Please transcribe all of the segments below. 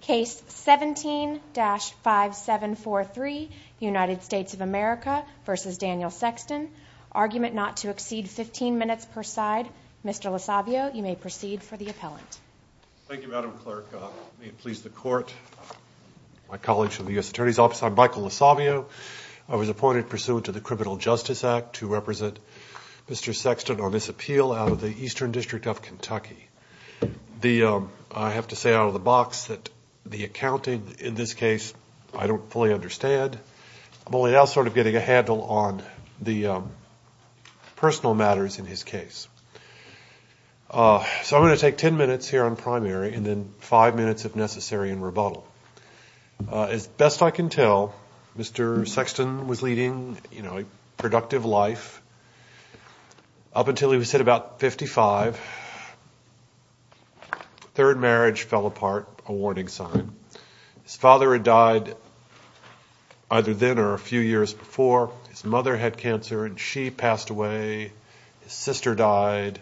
Case 17-5743, United States of America v. Daniel Sexton, argument not to exceed 15 minutes per side. Mr. LoSavio, you may proceed for the appellant. Thank you, Madam Clerk. May it please the Court, my colleagues from the U.S. Attorney's Office, I'm Michael LoSavio. I was appointed pursuant to the Criminal Justice Act to represent Mr. Sexton on this appeal out of the Eastern District of Kentucky. I have to say out of the box that the accounting in this case I don't fully understand. I'm only now sort of getting a handle on the personal matters in his case. So I'm going to take ten minutes here on primary and then five minutes if necessary in rebuttal. As best I can tell, Mr. Sexton was leading a productive life up until he was hit about 55. Third marriage fell apart, a warning sign. His father had died either then or a few years before. His mother had cancer and she passed away. His sister died.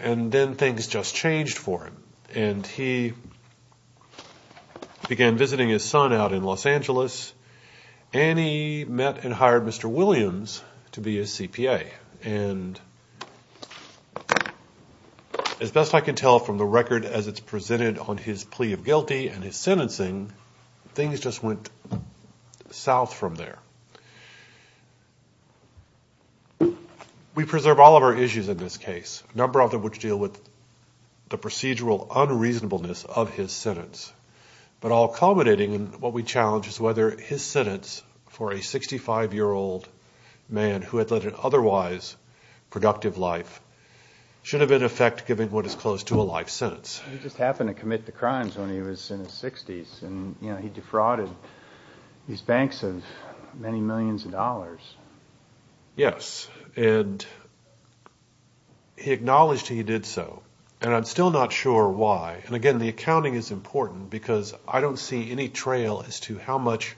And then things just changed for him and he began visiting his son out in Los Angeles and he met and hired Mr. Williams to be his CPA. And as best I can tell from the record as it's presented on his plea of guilty and his sentencing, things just went south from there. We preserve all of our issues in this case, a number of them which deal with the procedural unreasonableness of his sentence. But all culminating in what we challenge is whether his sentence for a 65-year-old man who had led an otherwise productive life should have in effect given what is close to a life sentence. He just happened to commit the crimes when he was in his 60s and he defrauded these banks of many millions of dollars. Yes, and he acknowledged he did so and I'm still not sure why. And again, the accounting is important because I don't see any trail as to how much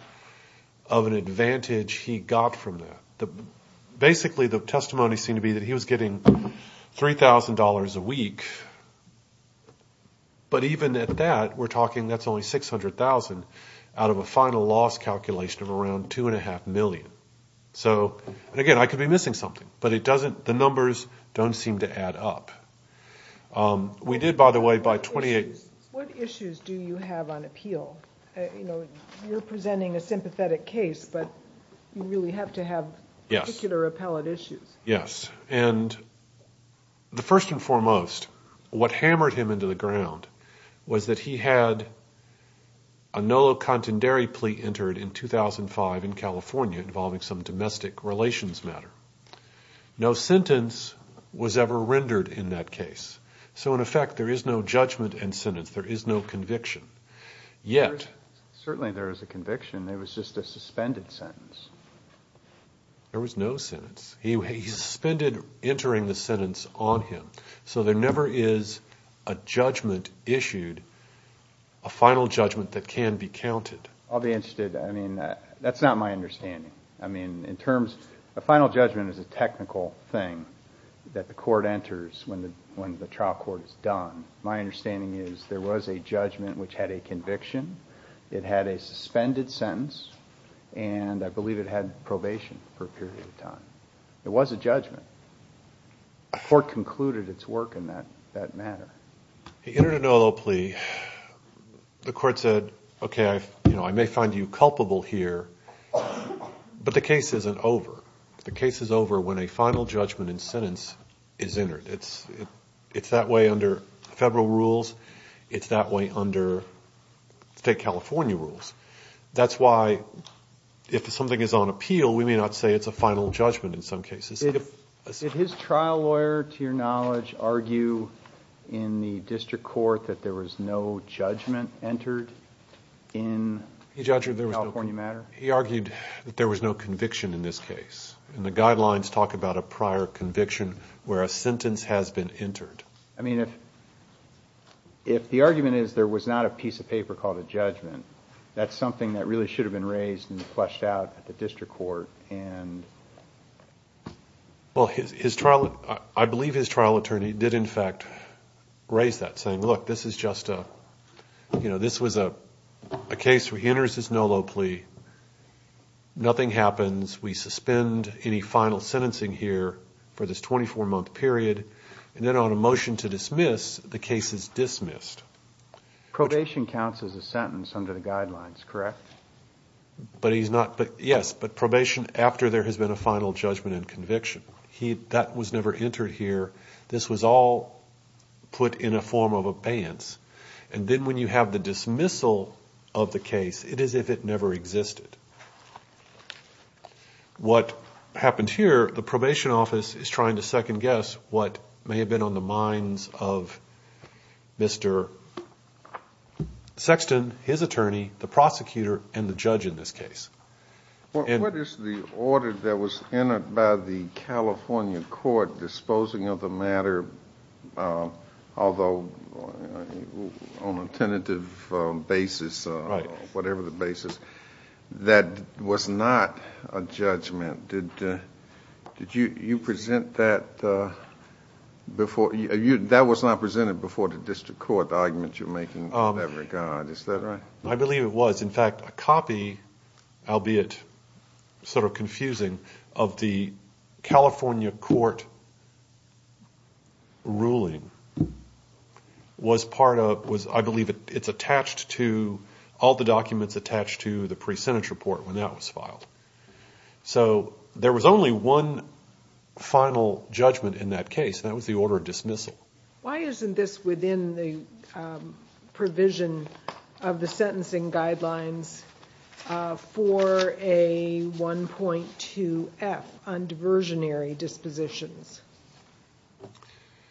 of an advantage he got from that. Basically the testimony seemed to be that he was getting $3,000 a week, but even at that we're talking that's only $600,000 out of a final loss calculation of around $2.5 million. So again, I could be missing something, but the numbers don't seem to add up. What issues do you have on appeal? You're presenting a sympathetic case, but you really have to have particular appellate issues. Yes, and first and foremost, what hammered him into the ground was that he had a NOLA contendary plea entered in 2005 in California involving some domestic relations matter. No sentence was ever rendered in that case, so in effect there is no judgment and sentence. There is no conviction, yet. Certainly there is a conviction. It was just a suspended sentence. There was no sentence. He suspended entering the sentence on him, so there never is a judgment issued, a final judgment that can be counted. I'll be interested. I mean, that's not my understanding. A final judgment is a technical thing that the court enters when the trial court is done. My understanding is there was a judgment which had a conviction. It had a suspended sentence, and I believe it had probation for a period of time. It was a judgment. The court concluded its work in that matter. He entered a NOLA plea. The court said, okay, I may find you culpable here, but the case isn't over. The case is over when a final judgment and sentence is entered. It's that way under federal rules. It's that way under state California rules. That's why if something is on appeal, we may not say it's a final judgment in some cases. Did his trial lawyer, to your knowledge, argue in the district court that there was no judgment entered in the California matter? He argued that there was no conviction in this case. The guidelines talk about a prior conviction where a sentence has been entered. I mean, if the argument is there was not a piece of paper called a judgment, that's something that really should have been raised and fleshed out at the district court. Well, I believe his trial attorney did, in fact, raise that, saying, look, this was a case where he enters his NOLA plea, nothing happens. We suspend any final sentencing here for this 24-month period, and then on a motion to dismiss, the case is dismissed. Probation counts as a sentence under the guidelines, correct? Yes, but probation after there has been a final judgment and conviction. That was never entered here. This was all put in a form of abeyance. And then when you have the dismissal of the case, it is as if it never existed. What happened here, the probation office is trying to second-guess what may have been on the minds of Mr. Sexton, his attorney, the prosecutor, and the judge in this case. What is the order that was entered by the California court disposing of the matter, although on a tentative basis, whatever the basis, that was not a judgment? Did you present that before? That was not presented before the district court, the argument you're making in that regard, is that right? I believe it was. when that was filed. So there was only one final judgment in that case, and that was the order of dismissal. Why isn't this within the provision of the sentencing guidelines for a 1.2f on diversionary dispositions,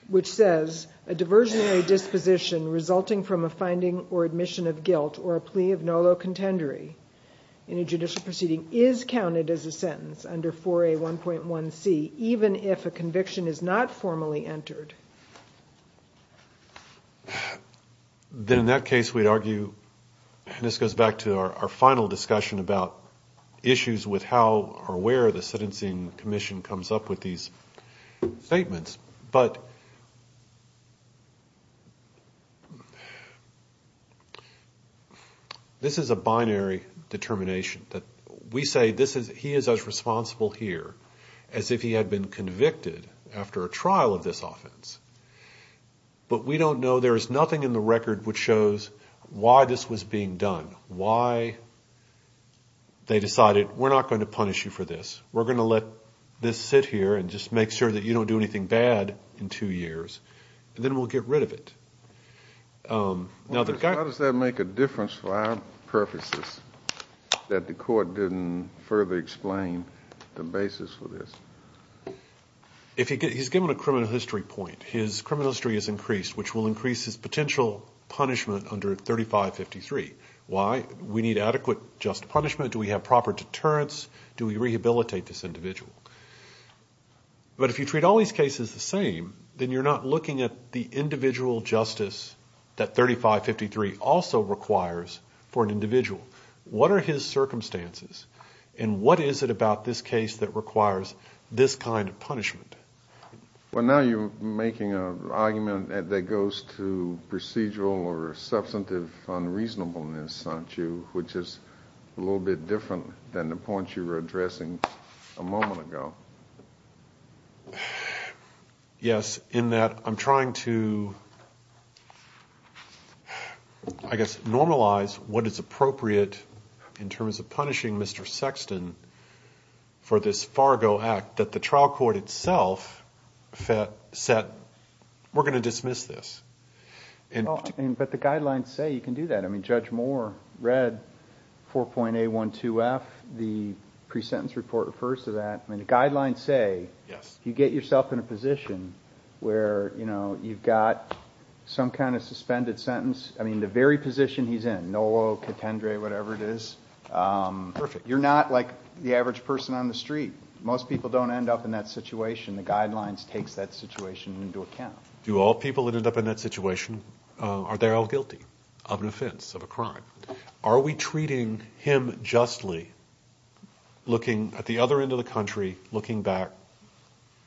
which says, a diversionary disposition resulting from a finding or admission of guilt or a plea of no low contendery in a judicial proceeding is counted as a sentence under 4A1.1c, even if a conviction is not formally entered? Then in that case, we'd argue, and this goes back to our final discussion about issues with how or where the sentencing commission comes up with these statements, but this is a binary determination. We say he is as responsible here as if he had been convicted after a trial of this offense. But we don't know. There is nothing in the record which shows why this was being done, why they decided, we're not going to punish you for this. We're going to let this sit here and just make sure that you don't do anything bad in two years, and then we'll get rid of it. How does that make a difference for our purposes that the court didn't further explain the basis for this? He's given a criminal history point. His criminal history is increased, which will increase his potential punishment under 3553. Why? We need adequate just punishment. Do we have proper deterrence? Do we rehabilitate this individual? But if you treat all these cases the same, then you're not looking at the individual justice that 3553 also requires for an individual. What are his circumstances, and what is it about this case that requires this kind of punishment? Well, now you're making an argument that goes to procedural or substantive unreasonableness, aren't you, which is a little bit different than the points you were addressing a moment ago. Yes, in that I'm trying to, I guess, normalize what is appropriate in terms of punishing Mr. Sexton for this Fargo Act, that the trial court itself said, we're going to dismiss this. But the guidelines say you can do that. I mean, Judge Moore read 4.A12F. The pre-sentence report refers to that. I mean, the guidelines say you get yourself in a position where you've got some kind of suspended sentence. I mean, the very position he's in, NOLO, contendere, whatever it is, you're not like the average person on the street. Most people don't end up in that situation. The guidelines take that situation into account. Do all people that end up in that situation, are they all guilty of an offense, of a crime? Are we treating him justly, looking at the other end of the country, looking back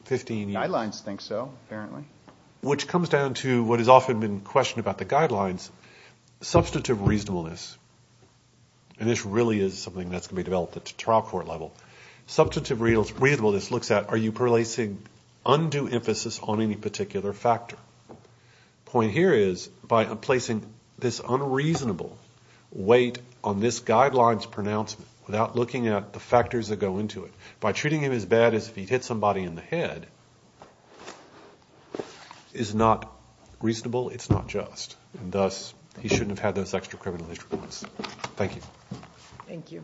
15 years? Guidelines think so, apparently. Which comes down to what has often been questioned about the guidelines, substantive reasonableness. And this really is something that's going to be developed at the trial court level. Substantive reasonableness looks at, are you placing undue emphasis on any particular factor? The point here is, by placing this unreasonable weight on this guideline's pronouncement, without looking at the factors that go into it, by treating him as bad as if he'd hit somebody in the head, is not reasonable, it's not just. And thus, he shouldn't have had those extra criminal history points. Thank you. Thank you.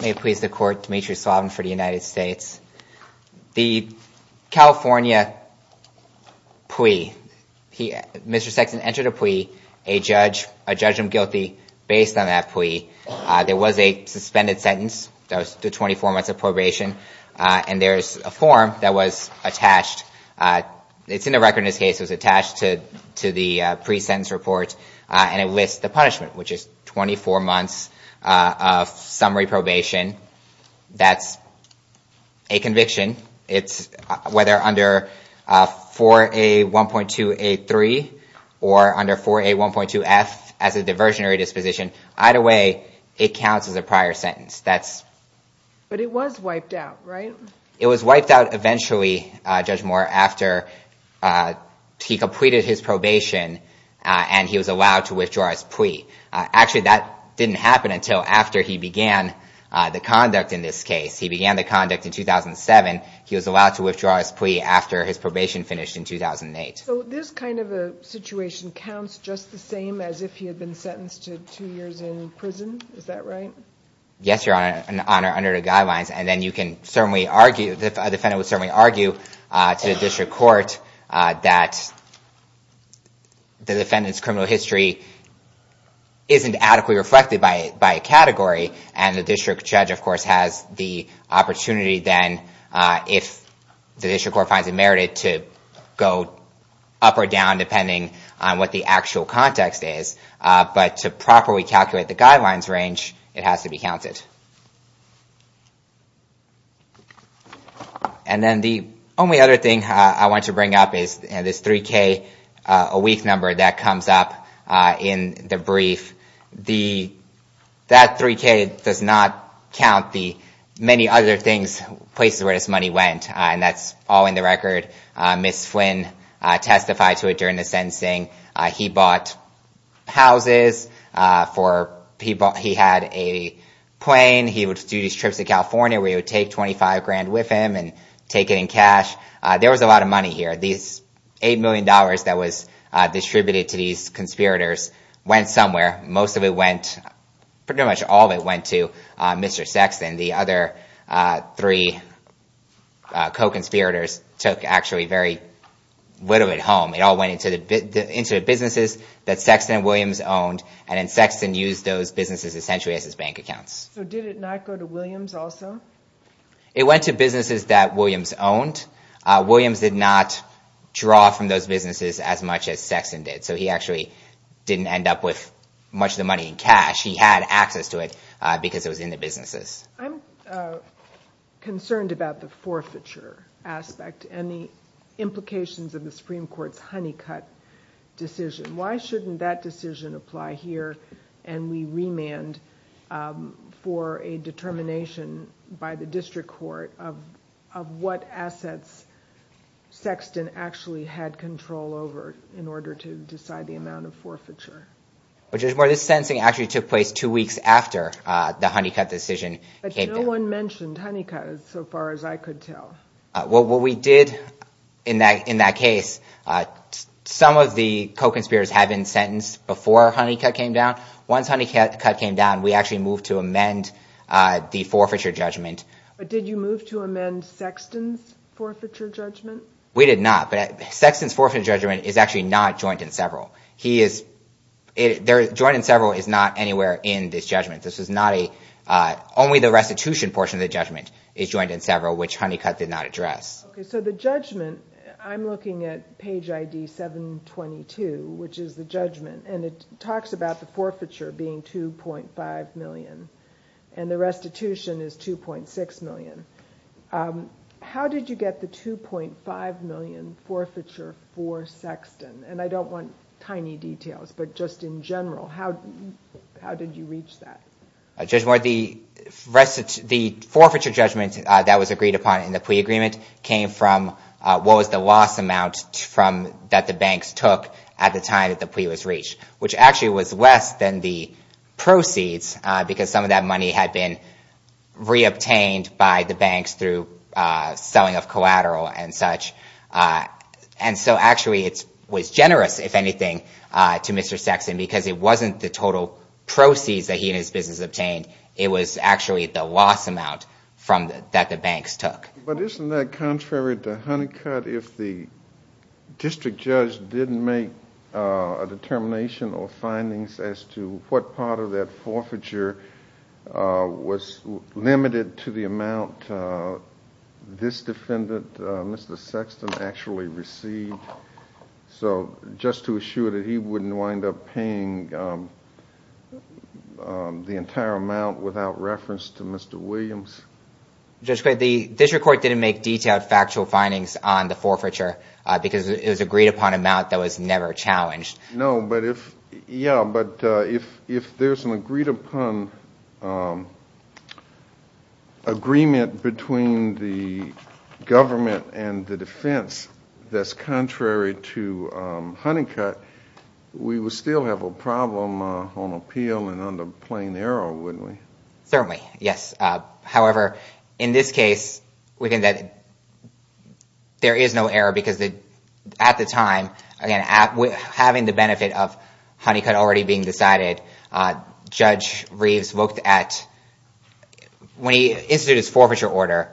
May it please the Court, Dmitry Slavin for the United States. The California plea, Mr. Sexton entered a plea, a judgment guilty based on that plea. There was a suspended sentence, that was to 24 months of probation, and there's a form that was attached. It's in the record in this case, it was attached to the pre-sentence report, and it lists the punishment, which is 24 months of summary probation. That's a conviction. Whether under 4A1.283 or under 4A1.2F as a diversionary disposition, either way, it counts as a prior sentence. But it was wiped out, right? It was wiped out eventually, Judge Moore, after he completed his probation and he was allowed to withdraw his plea. Actually, that didn't happen until after he began the conduct in this case. He began the conduct in 2007. He was allowed to withdraw his plea after his probation finished in 2008. So this kind of a situation counts just the same as if he had been sentenced to two years in prison? Is that right? Yes, Your Honor, under the guidelines. And then you can certainly argue, a defendant would certainly argue to the district court that the defendant's criminal history isn't adequately reflected by a category. And the district judge, of course, has the opportunity then, if the district court finds it merited, to go up or down depending on what the actual context is. But to properly calculate the guidelines range, it has to be counted. And then the only other thing I want to bring up is this 3K, a weak number that comes up in the brief. That 3K does not count the many other things, places where this money went. And that's all in the record. Ms. Flynn testified to it during the sentencing. He bought houses for people. He had a plane. He would do these trips to California where he would take 25 grand with him and take it in cash. There was a lot of money here. These $8 million that was distributed to these conspirators went somewhere. Most of it went, pretty much all of it went to Mr. Sexton. The other three co-conspirators took actually very little at home. It all went into the businesses that Sexton and Williams owned, and then Sexton used those businesses essentially as his bank accounts. So did it not go to Williams also? It went to businesses that Williams owned. Williams did not draw from those businesses as much as Sexton did, so he actually didn't end up with much of the money in cash. He had access to it because it was in the businesses. I'm concerned about the forfeiture aspect and the implications of the Supreme Court's honey cut decision. Why shouldn't that decision apply here and we remand for a determination by the district court of what assets Sexton actually had control over in order to decide the amount of forfeiture? This sentencing actually took place two weeks after the honey cut decision came down. But no one mentioned honey cut so far as I could tell. What we did in that case, some of the co-conspirators had been sentenced before honey cut came down. Once honey cut came down, we actually moved to amend the forfeiture judgment. But did you move to amend Sexton's forfeiture judgment? We did not, but Sexton's forfeiture judgment is actually not joint in several. Joint in several is not anywhere in this judgment. Only the restitution portion of the judgment is joint in several, which honey cut did not address. So the judgment, I'm looking at page ID 722, which is the judgment, and it talks about the forfeiture being $2.5 million and the restitution is $2.6 million. How did you get the $2.5 million forfeiture for Sexton? And I don't want tiny details, but just in general, how did you reach that? Judge Moore, the forfeiture judgment that was agreed upon in the plea agreement came from what was the loss amount that the banks took at the time that the plea was reached, which actually was less than the proceeds because some of that money had been reobtained by the banks through selling of collateral and such. And so actually it was generous, if anything, to Mr. Sexton because it wasn't the total proceeds that he and his business obtained. It was actually the loss amount that the banks took. But isn't that contrary to honey cut if the district judge didn't make a determination or findings as to what part of that forfeiture was limited to the amount this defendant, Mr. Sexton, actually received? So just to assure that he wouldn't wind up paying the entire amount without reference to Mr. Williams. Judge Gray, the district court didn't make detailed factual findings on the forfeiture because it was agreed upon amount that was never challenged. No, but if there's an agreed upon agreement between the government and the defense that's contrary to honey cut, we would still have a problem on appeal and on the plain error, wouldn't we? Certainly, yes. However, in this case, there is no error because at the time, having the benefit of honey cut already being decided, Judge Reeves looked at when he instituted his forfeiture order,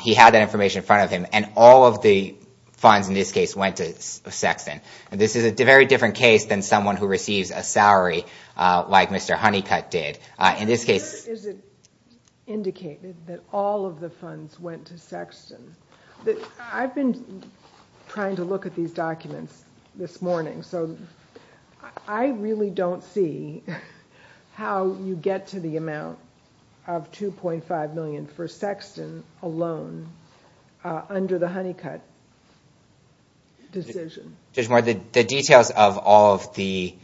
he had that information in front of him, and all of the funds in this case went to Sexton. This is a very different case than someone who receives a salary like Mr. Honeycut did. Where is it indicated that all of the funds went to Sexton? I've been trying to look at these documents this morning, so I really don't see how you get to the amount of $2.5 million for Sexton alone under the honey cut decision. Judge Moore, the details of all of the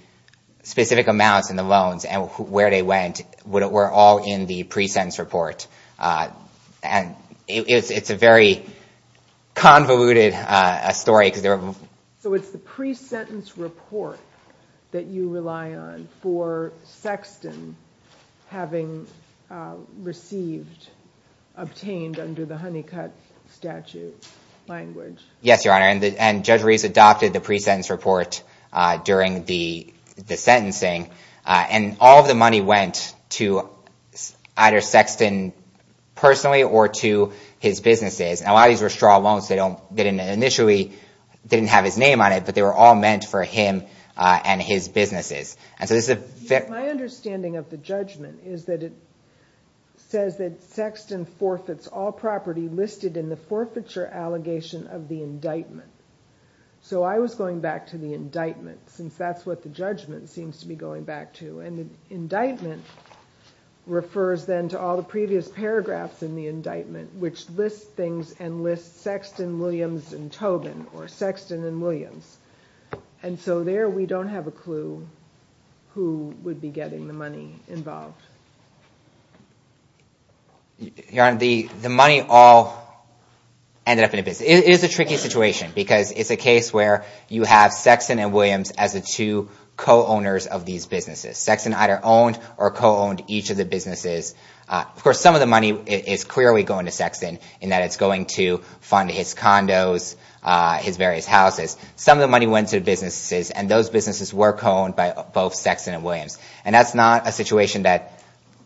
specific amounts and the loans and where they went were all in the pre-sentence report, and it's a very convoluted story. So it's the pre-sentence report that you rely on for Sexton having received, obtained under the honey cut statute language. Yes, Your Honor, and Judge Reeves adopted the pre-sentence report during the sentencing, and all of the money went to either Sexton personally or to his businesses. A lot of these were straw loans, so they initially didn't have his name on it, but they were all meant for him and his businesses. My understanding of the judgment is that it says that Sexton forfeits all property listed in the forfeiture allegation of the indictment. So I was going back to the indictment since that's what the judgment seems to be going back to, and the indictment refers then to all the previous paragraphs in the indictment which list things and list Sexton, Williams, and Tobin, or Sexton and Williams. And so there we don't have a clue who would be getting the money involved. Your Honor, the money all ended up in a business. It is a tricky situation because it's a case where you have Sexton and Williams as the two co-owners of these businesses. Sexton either owned or co-owned each of the businesses. Of course, some of the money is clearly going to Sexton in that it's going to fund his condos, his various houses. Some of the money went to businesses, and those businesses were co-owned by both Sexton and Williams. And that's not a situation that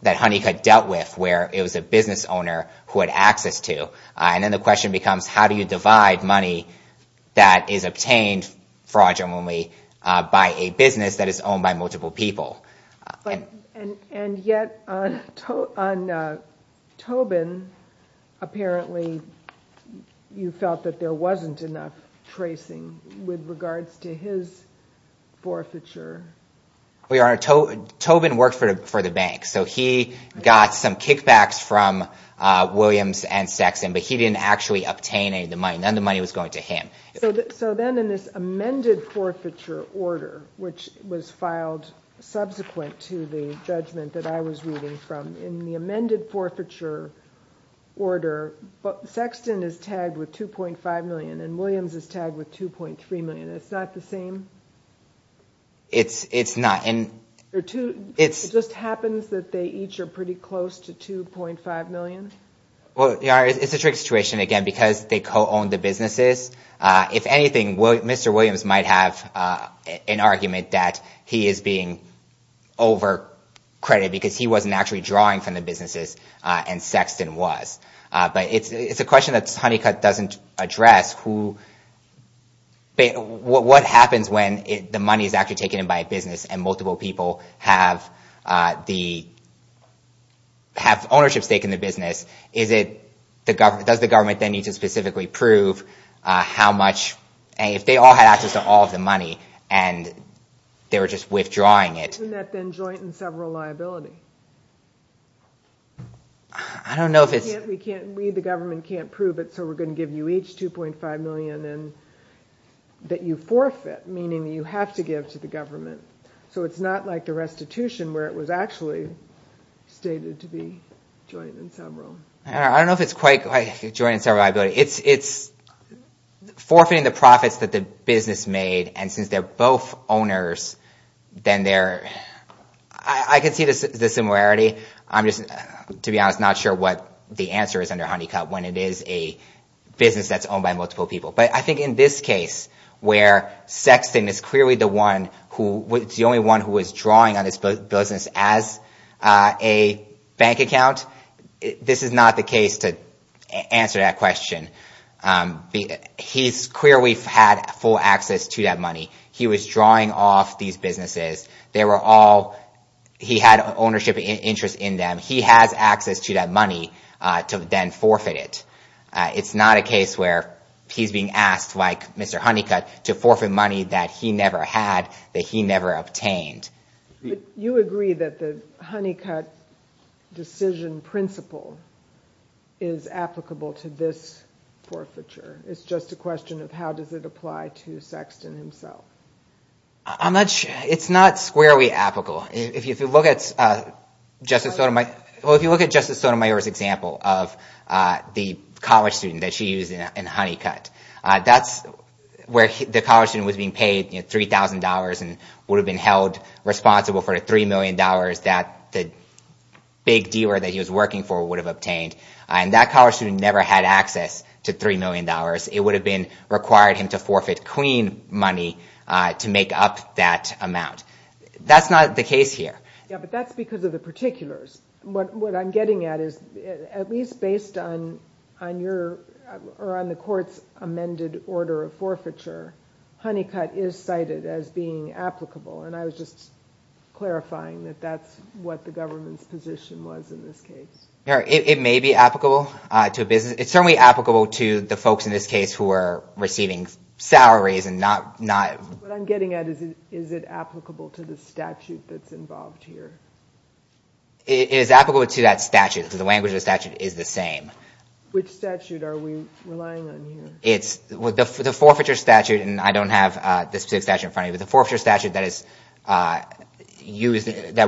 Honeycutt dealt with where it was a business owner who had access to. And then the question becomes how do you divide money that is obtained, fraudulently, by a business that is owned by multiple people. And yet on Tobin, apparently you felt that there wasn't enough tracing with regards to his forfeiture. Well, Your Honor, Tobin worked for the bank. So he got some kickbacks from Williams and Sexton, but he didn't actually obtain any of the money. None of the money was going to him. So then in this amended forfeiture order, which was filed subsequent to the judgment that I was reading from, in the amended forfeiture order, Sexton is tagged with $2.5 million and Williams is tagged with $2.3 million. It's not the same? It's not. It just happens that they each are pretty close to $2.5 million? Well, Your Honor, it's a trick situation, again, because they co-owned the businesses. If anything, Mr. Williams might have an argument that he is being overcredited because he wasn't actually drawing from the businesses and Sexton was. But it's a question that Honeycutt doesn't address. What happens when the money is actually taken in by a business and multiple people have ownership stake in the business? Does the government then need to specifically prove how much? If they all had access to all of the money and they were just withdrawing it. Isn't that then joint and several liability? I don't know if it's... We, the government, can't prove it, so we're going to give you each $2.5 million that you forfeit, meaning you have to give to the government. So it's not like the restitution where it was actually stated to be joint and several. I don't know if it's quite joint and several liability. It's forfeiting the profits that the business made, and since they're both owners, I can see the similarity. I'm just, to be honest, not sure what the answer is under Honeycutt when it is a business that's owned by multiple people. But I think in this case where Sexton is clearly the only one who was drawing on this business as a bank account, this is not the case to answer that question. He was drawing off these businesses. They were all... He had ownership interest in them. He has access to that money to then forfeit it. It's not a case where he's being asked, like Mr. Honeycutt, to forfeit money that he never had, that he never obtained. But you agree that the Honeycutt decision principle is applicable to this forfeiture. It's just a question of how does it apply to Sexton himself. I'm not sure. It's not squarely applicable. If you look at Justice Sotomayor's example of the college student that she used in Honeycutt, that's where the college student was being paid $3,000 and would have been held responsible for the $3 million that the big dealer that he was working for would have obtained. And that college student never had access to $3 million. It would have required him to forfeit clean money to make up that amount. That's not the case here. Yeah, but that's because of the particulars. What I'm getting at is at least based on the court's amended order of forfeiture, Honeycutt is cited as being applicable. And I was just clarifying that that's what the government's position was in this case. It may be applicable to a business. It's certainly applicable to the folks in this case who are receiving salaries and not— What I'm getting at is is it applicable to the statute that's involved here? It is applicable to that statute because the language of the statute is the same. Which statute are we relying on here? The forfeiture statute, and I don't have the specific statute in front of me, but the forfeiture statute that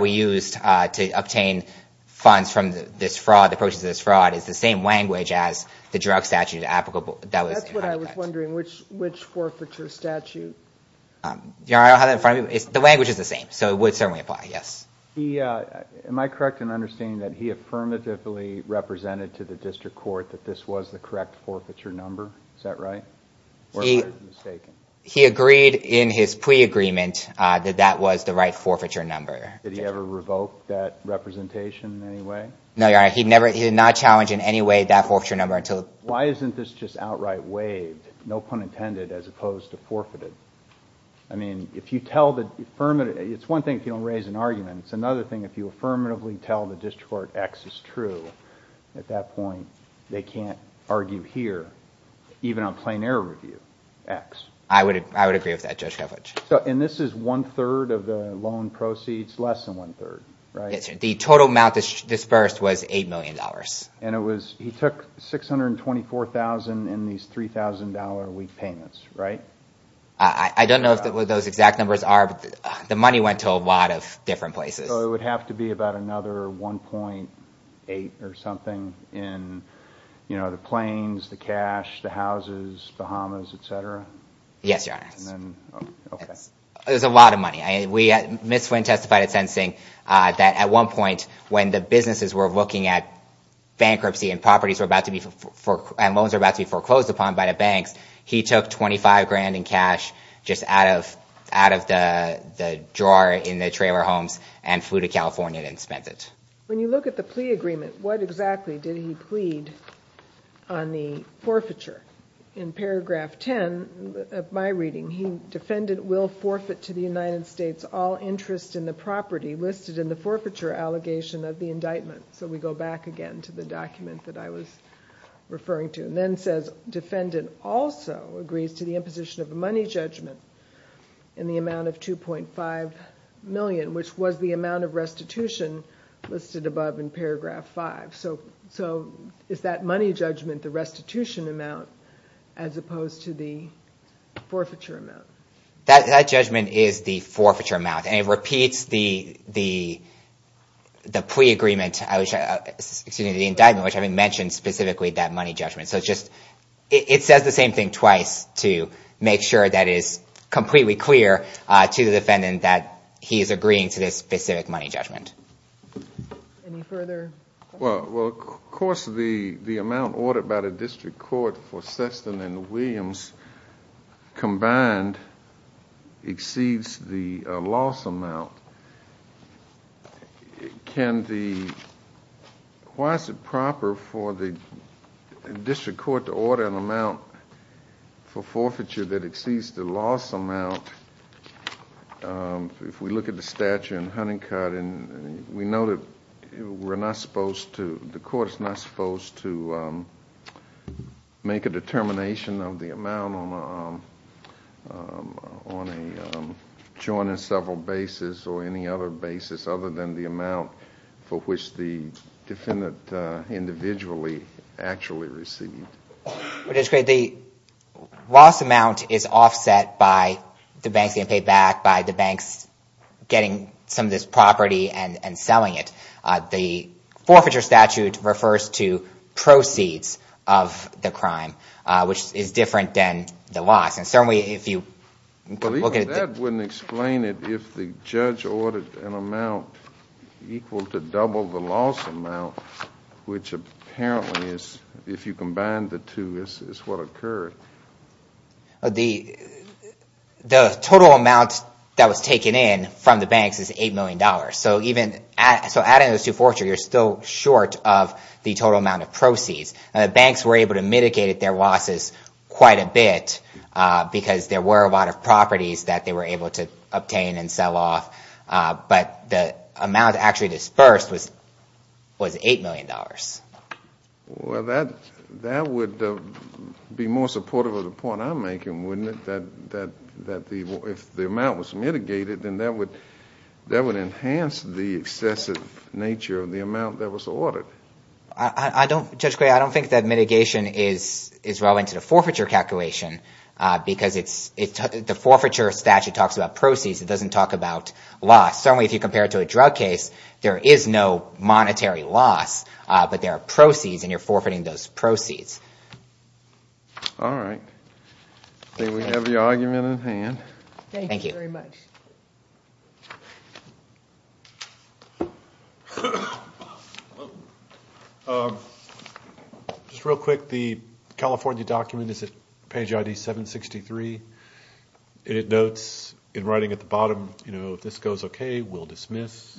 we used to obtain funds from this fraud, the purchase of this fraud, is the same language as the drug statute that was in Honeycutt. That's what I was wondering, which forfeiture statute? I don't have that in front of me. The language is the same, so it would certainly apply, yes. Am I correct in understanding that he affirmatively represented to the district court that this was the correct forfeiture number? Is that right? Or am I mistaken? He agreed in his pre-agreement that that was the right forfeiture number. Did he ever revoke that representation in any way? No, Your Honor, he did not challenge in any way that forfeiture number until— Why isn't this just outright waived, no pun intended, as opposed to forfeited? I mean, if you tell the—it's one thing if you don't raise an argument. It's another thing if you affirmatively tell the district court X is true. At that point, they can't argue here, even on plain error review, X. I would agree with that, Judge Kovach. And this is one-third of the loan proceeds, less than one-third, right? Yes, sir. The total amount disbursed was $8 million. And it was—he took $624,000 in these $3,000 a week payments, right? I don't know what those exact numbers are, but the money went to a lot of different places. So it would have to be about another $1.8 or something in, you know, the planes, the cash, the houses, Bahamas, et cetera? Yes, Your Honor. Okay. It was a lot of money. Ms. Flynn testified at sentencing that at one point when the businesses were looking at bankruptcy and properties were about to be—and loans were about to be foreclosed upon by the banks, he took $25,000 in cash just out of the drawer in the trailer homes and flew to California and spent it. When you look at the plea agreement, what exactly did he plead on the forfeiture? In paragraph 10 of my reading, he defended will forfeit to the United States all interest in the property listed in the forfeiture allegation of the indictment. So we go back again to the document that I was referring to. And then it says defendant also agrees to the imposition of a money judgment in the amount of $2.5 million, which was the amount of restitution listed above in paragraph 5. So is that money judgment the restitution amount as opposed to the forfeiture amount? That judgment is the forfeiture amount, and it repeats the plea agreement— it says the same thing twice to make sure that it is completely clear to the defendant that he is agreeing to this specific money judgment. Any further questions? Well, of course the amount ordered by the district court for Sessom and Williams combined exceeds the loss amount. Can the—why is it proper for the district court to order an amount for forfeiture that exceeds the loss amount? If we look at the statute in Huntington, we know that we're not supposed to— other than the amount for which the defendant individually actually received. The loss amount is offset by the banks getting paid back, by the banks getting some of this property and selling it. The forfeiture statute refers to proceeds of the crime, which is different than the loss. But even that wouldn't explain it if the judge ordered an amount equal to double the loss amount, which apparently is, if you combine the two, is what occurred. The total amount that was taken in from the banks is $8 million. So even—so adding those two forfeiture, you're still short of the total amount of proceeds. The banks were able to mitigate their losses quite a bit, because there were a lot of properties that they were able to obtain and sell off. But the amount actually disbursed was $8 million. Well, that would be more supportive of the point I'm making, wouldn't it, that if the amount was mitigated, then that would enhance the excessive nature of the amount that was ordered. I don't—Judge Gray, I don't think that mitigation is relevant to the forfeiture calculation, because the forfeiture statute talks about proceeds. It doesn't talk about loss. Certainly if you compare it to a drug case, there is no monetary loss, but there are proceeds, and you're forfeiting those proceeds. All right. I think we have your argument in hand. Thank you very much. Just real quick, the California document is at page ID 763, and it notes in writing at the bottom, you know, if this goes okay, we'll dismiss.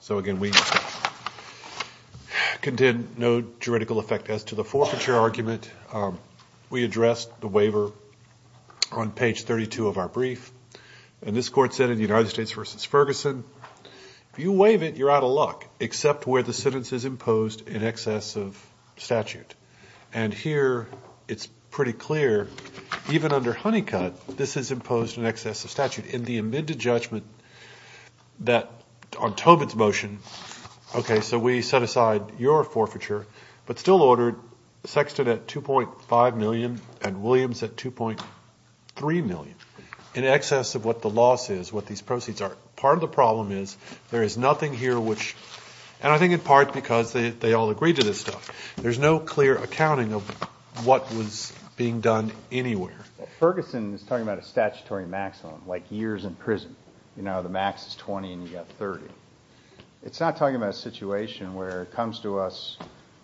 So again, we contend no juridical effect as to the forfeiture argument. We addressed the waiver on page 32 of our brief, and this court said in the United States v. Ferguson, if you waive it, you're out of luck, except where the sentence is imposed in excess of statute. And here it's pretty clear, even under Honeycutt, this is imposed in excess of statute. In the amended judgment on Tobin's motion, okay, so we set aside your forfeiture, but still ordered Sexton at $2.5 million and Williams at $2.3 million, in excess of what the loss is, what these proceeds are. Part of the problem is there is nothing here which, and I think in part because they all agreed to this stuff, there's no clear accounting of what was being done anywhere. Well, Ferguson is talking about a statutory maximum, like years in prison. You know, the max is 20 and you've got 30. It's not talking about a situation where it comes to us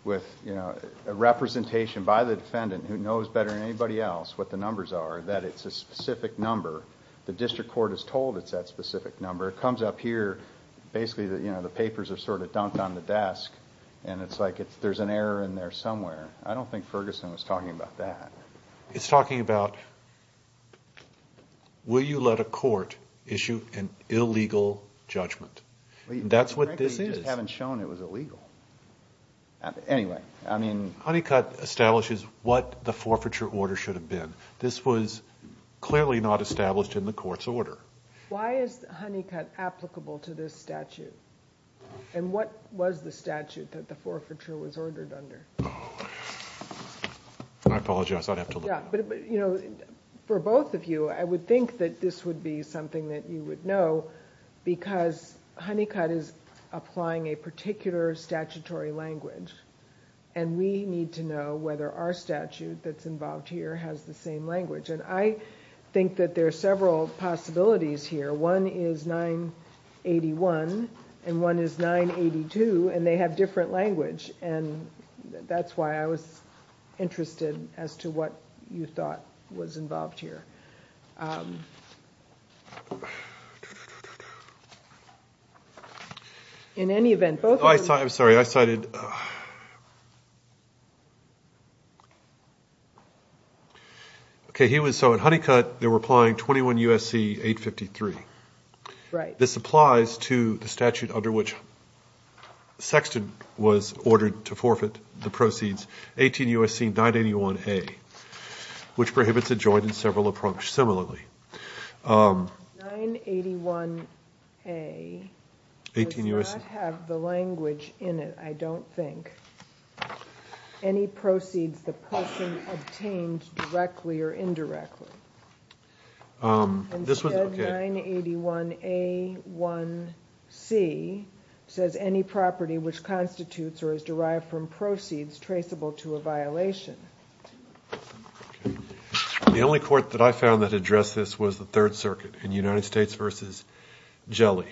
with, you know, a representation by the defendant who knows better than anybody else what the numbers are, that it's a specific number. The district court is told it's that specific number. It comes up here, basically, you know, the papers are sort of dumped on the desk, and it's like there's an error in there somewhere. I don't think Ferguson was talking about that. It's talking about will you let a court issue an illegal judgment. That's what this is. Frankly, you just haven't shown it was illegal. Anyway, I mean. Honeycutt establishes what the forfeiture order should have been. This was clearly not established in the court's order. Why is Honeycutt applicable to this statute? And what was the statute that the forfeiture was ordered under? I apologize. I'd have to look it up. Yeah, but, you know, for both of you, I would think that this would be something that you would know because Honeycutt is applying a particular statutory language, and we need to know whether our statute that's involved here has the same language. And I think that there are several possibilities here. One is 981, and one is 982, and they have different language. And that's why I was interested as to what you thought was involved here. In any event, both of you. I'm sorry. I cited. Okay. So in Honeycutt, they were applying 21 U.S.C. 853. Right. This applies to the statute under which Sexton was ordered to forfeit the proceeds, 18 U.S.C. 981A, which prohibits a joint in several approach similarly. 981A does not have the language in it, I don't think, any proceeds the person obtained directly or indirectly. Instead, 981A1C says any property which constitutes or is derived from proceeds traceable to a violation. The only court that I found that addressed this was the Third Circuit in United States v. Jelly.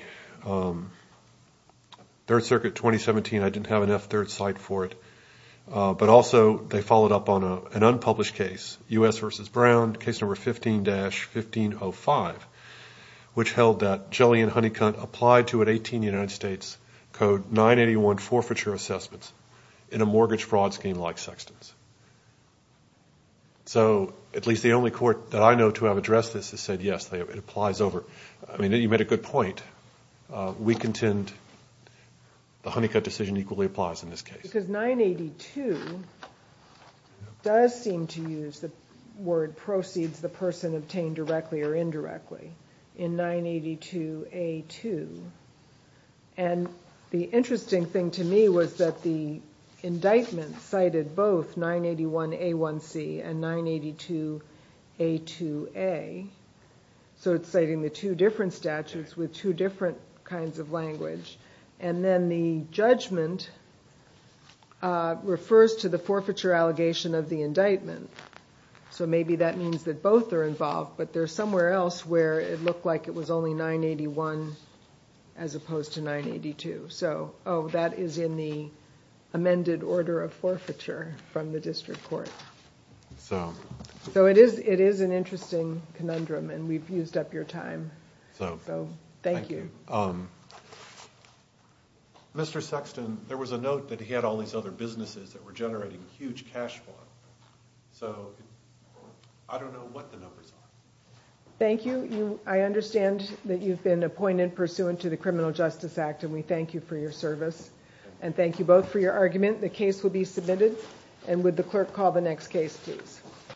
Third Circuit 2017, I didn't have enough third cite for it, but also they followed up on an unpublished case, U.S. v. Brown, case number 15-1505, which held that Jelly and Honeycutt applied to an 18 U.S.C. 981 forfeiture assessments in a mortgage fraud scheme like Sexton's. So at least the only court that I know to have addressed this has said yes, it applies over. I mean, you made a good point. We contend the Honeycutt decision equally applies in this case. Because 982 does seem to use the word proceeds the person obtained directly or indirectly in 982A2. And the interesting thing to me was that the indictment cited both 981A1C and 982A2A. So it's citing the two different statutes with two different kinds of language. And then the judgment refers to the forfeiture allegation of the indictment. So maybe that means that both are involved. But there's somewhere else where it looked like it was only 981 as opposed to 982. So that is in the amended order of forfeiture from the district court. So it is an interesting conundrum, and we've used up your time. So thank you. Thank you. Mr. Sexton, there was a note that he had all these other businesses that were generating huge cash flow. So I don't know what the numbers are. Thank you. I understand that you've been appointed pursuant to the Criminal Justice Act, and we thank you for your service. And thank you both for your argument. The case will be submitted. And would the clerk call the next case, please.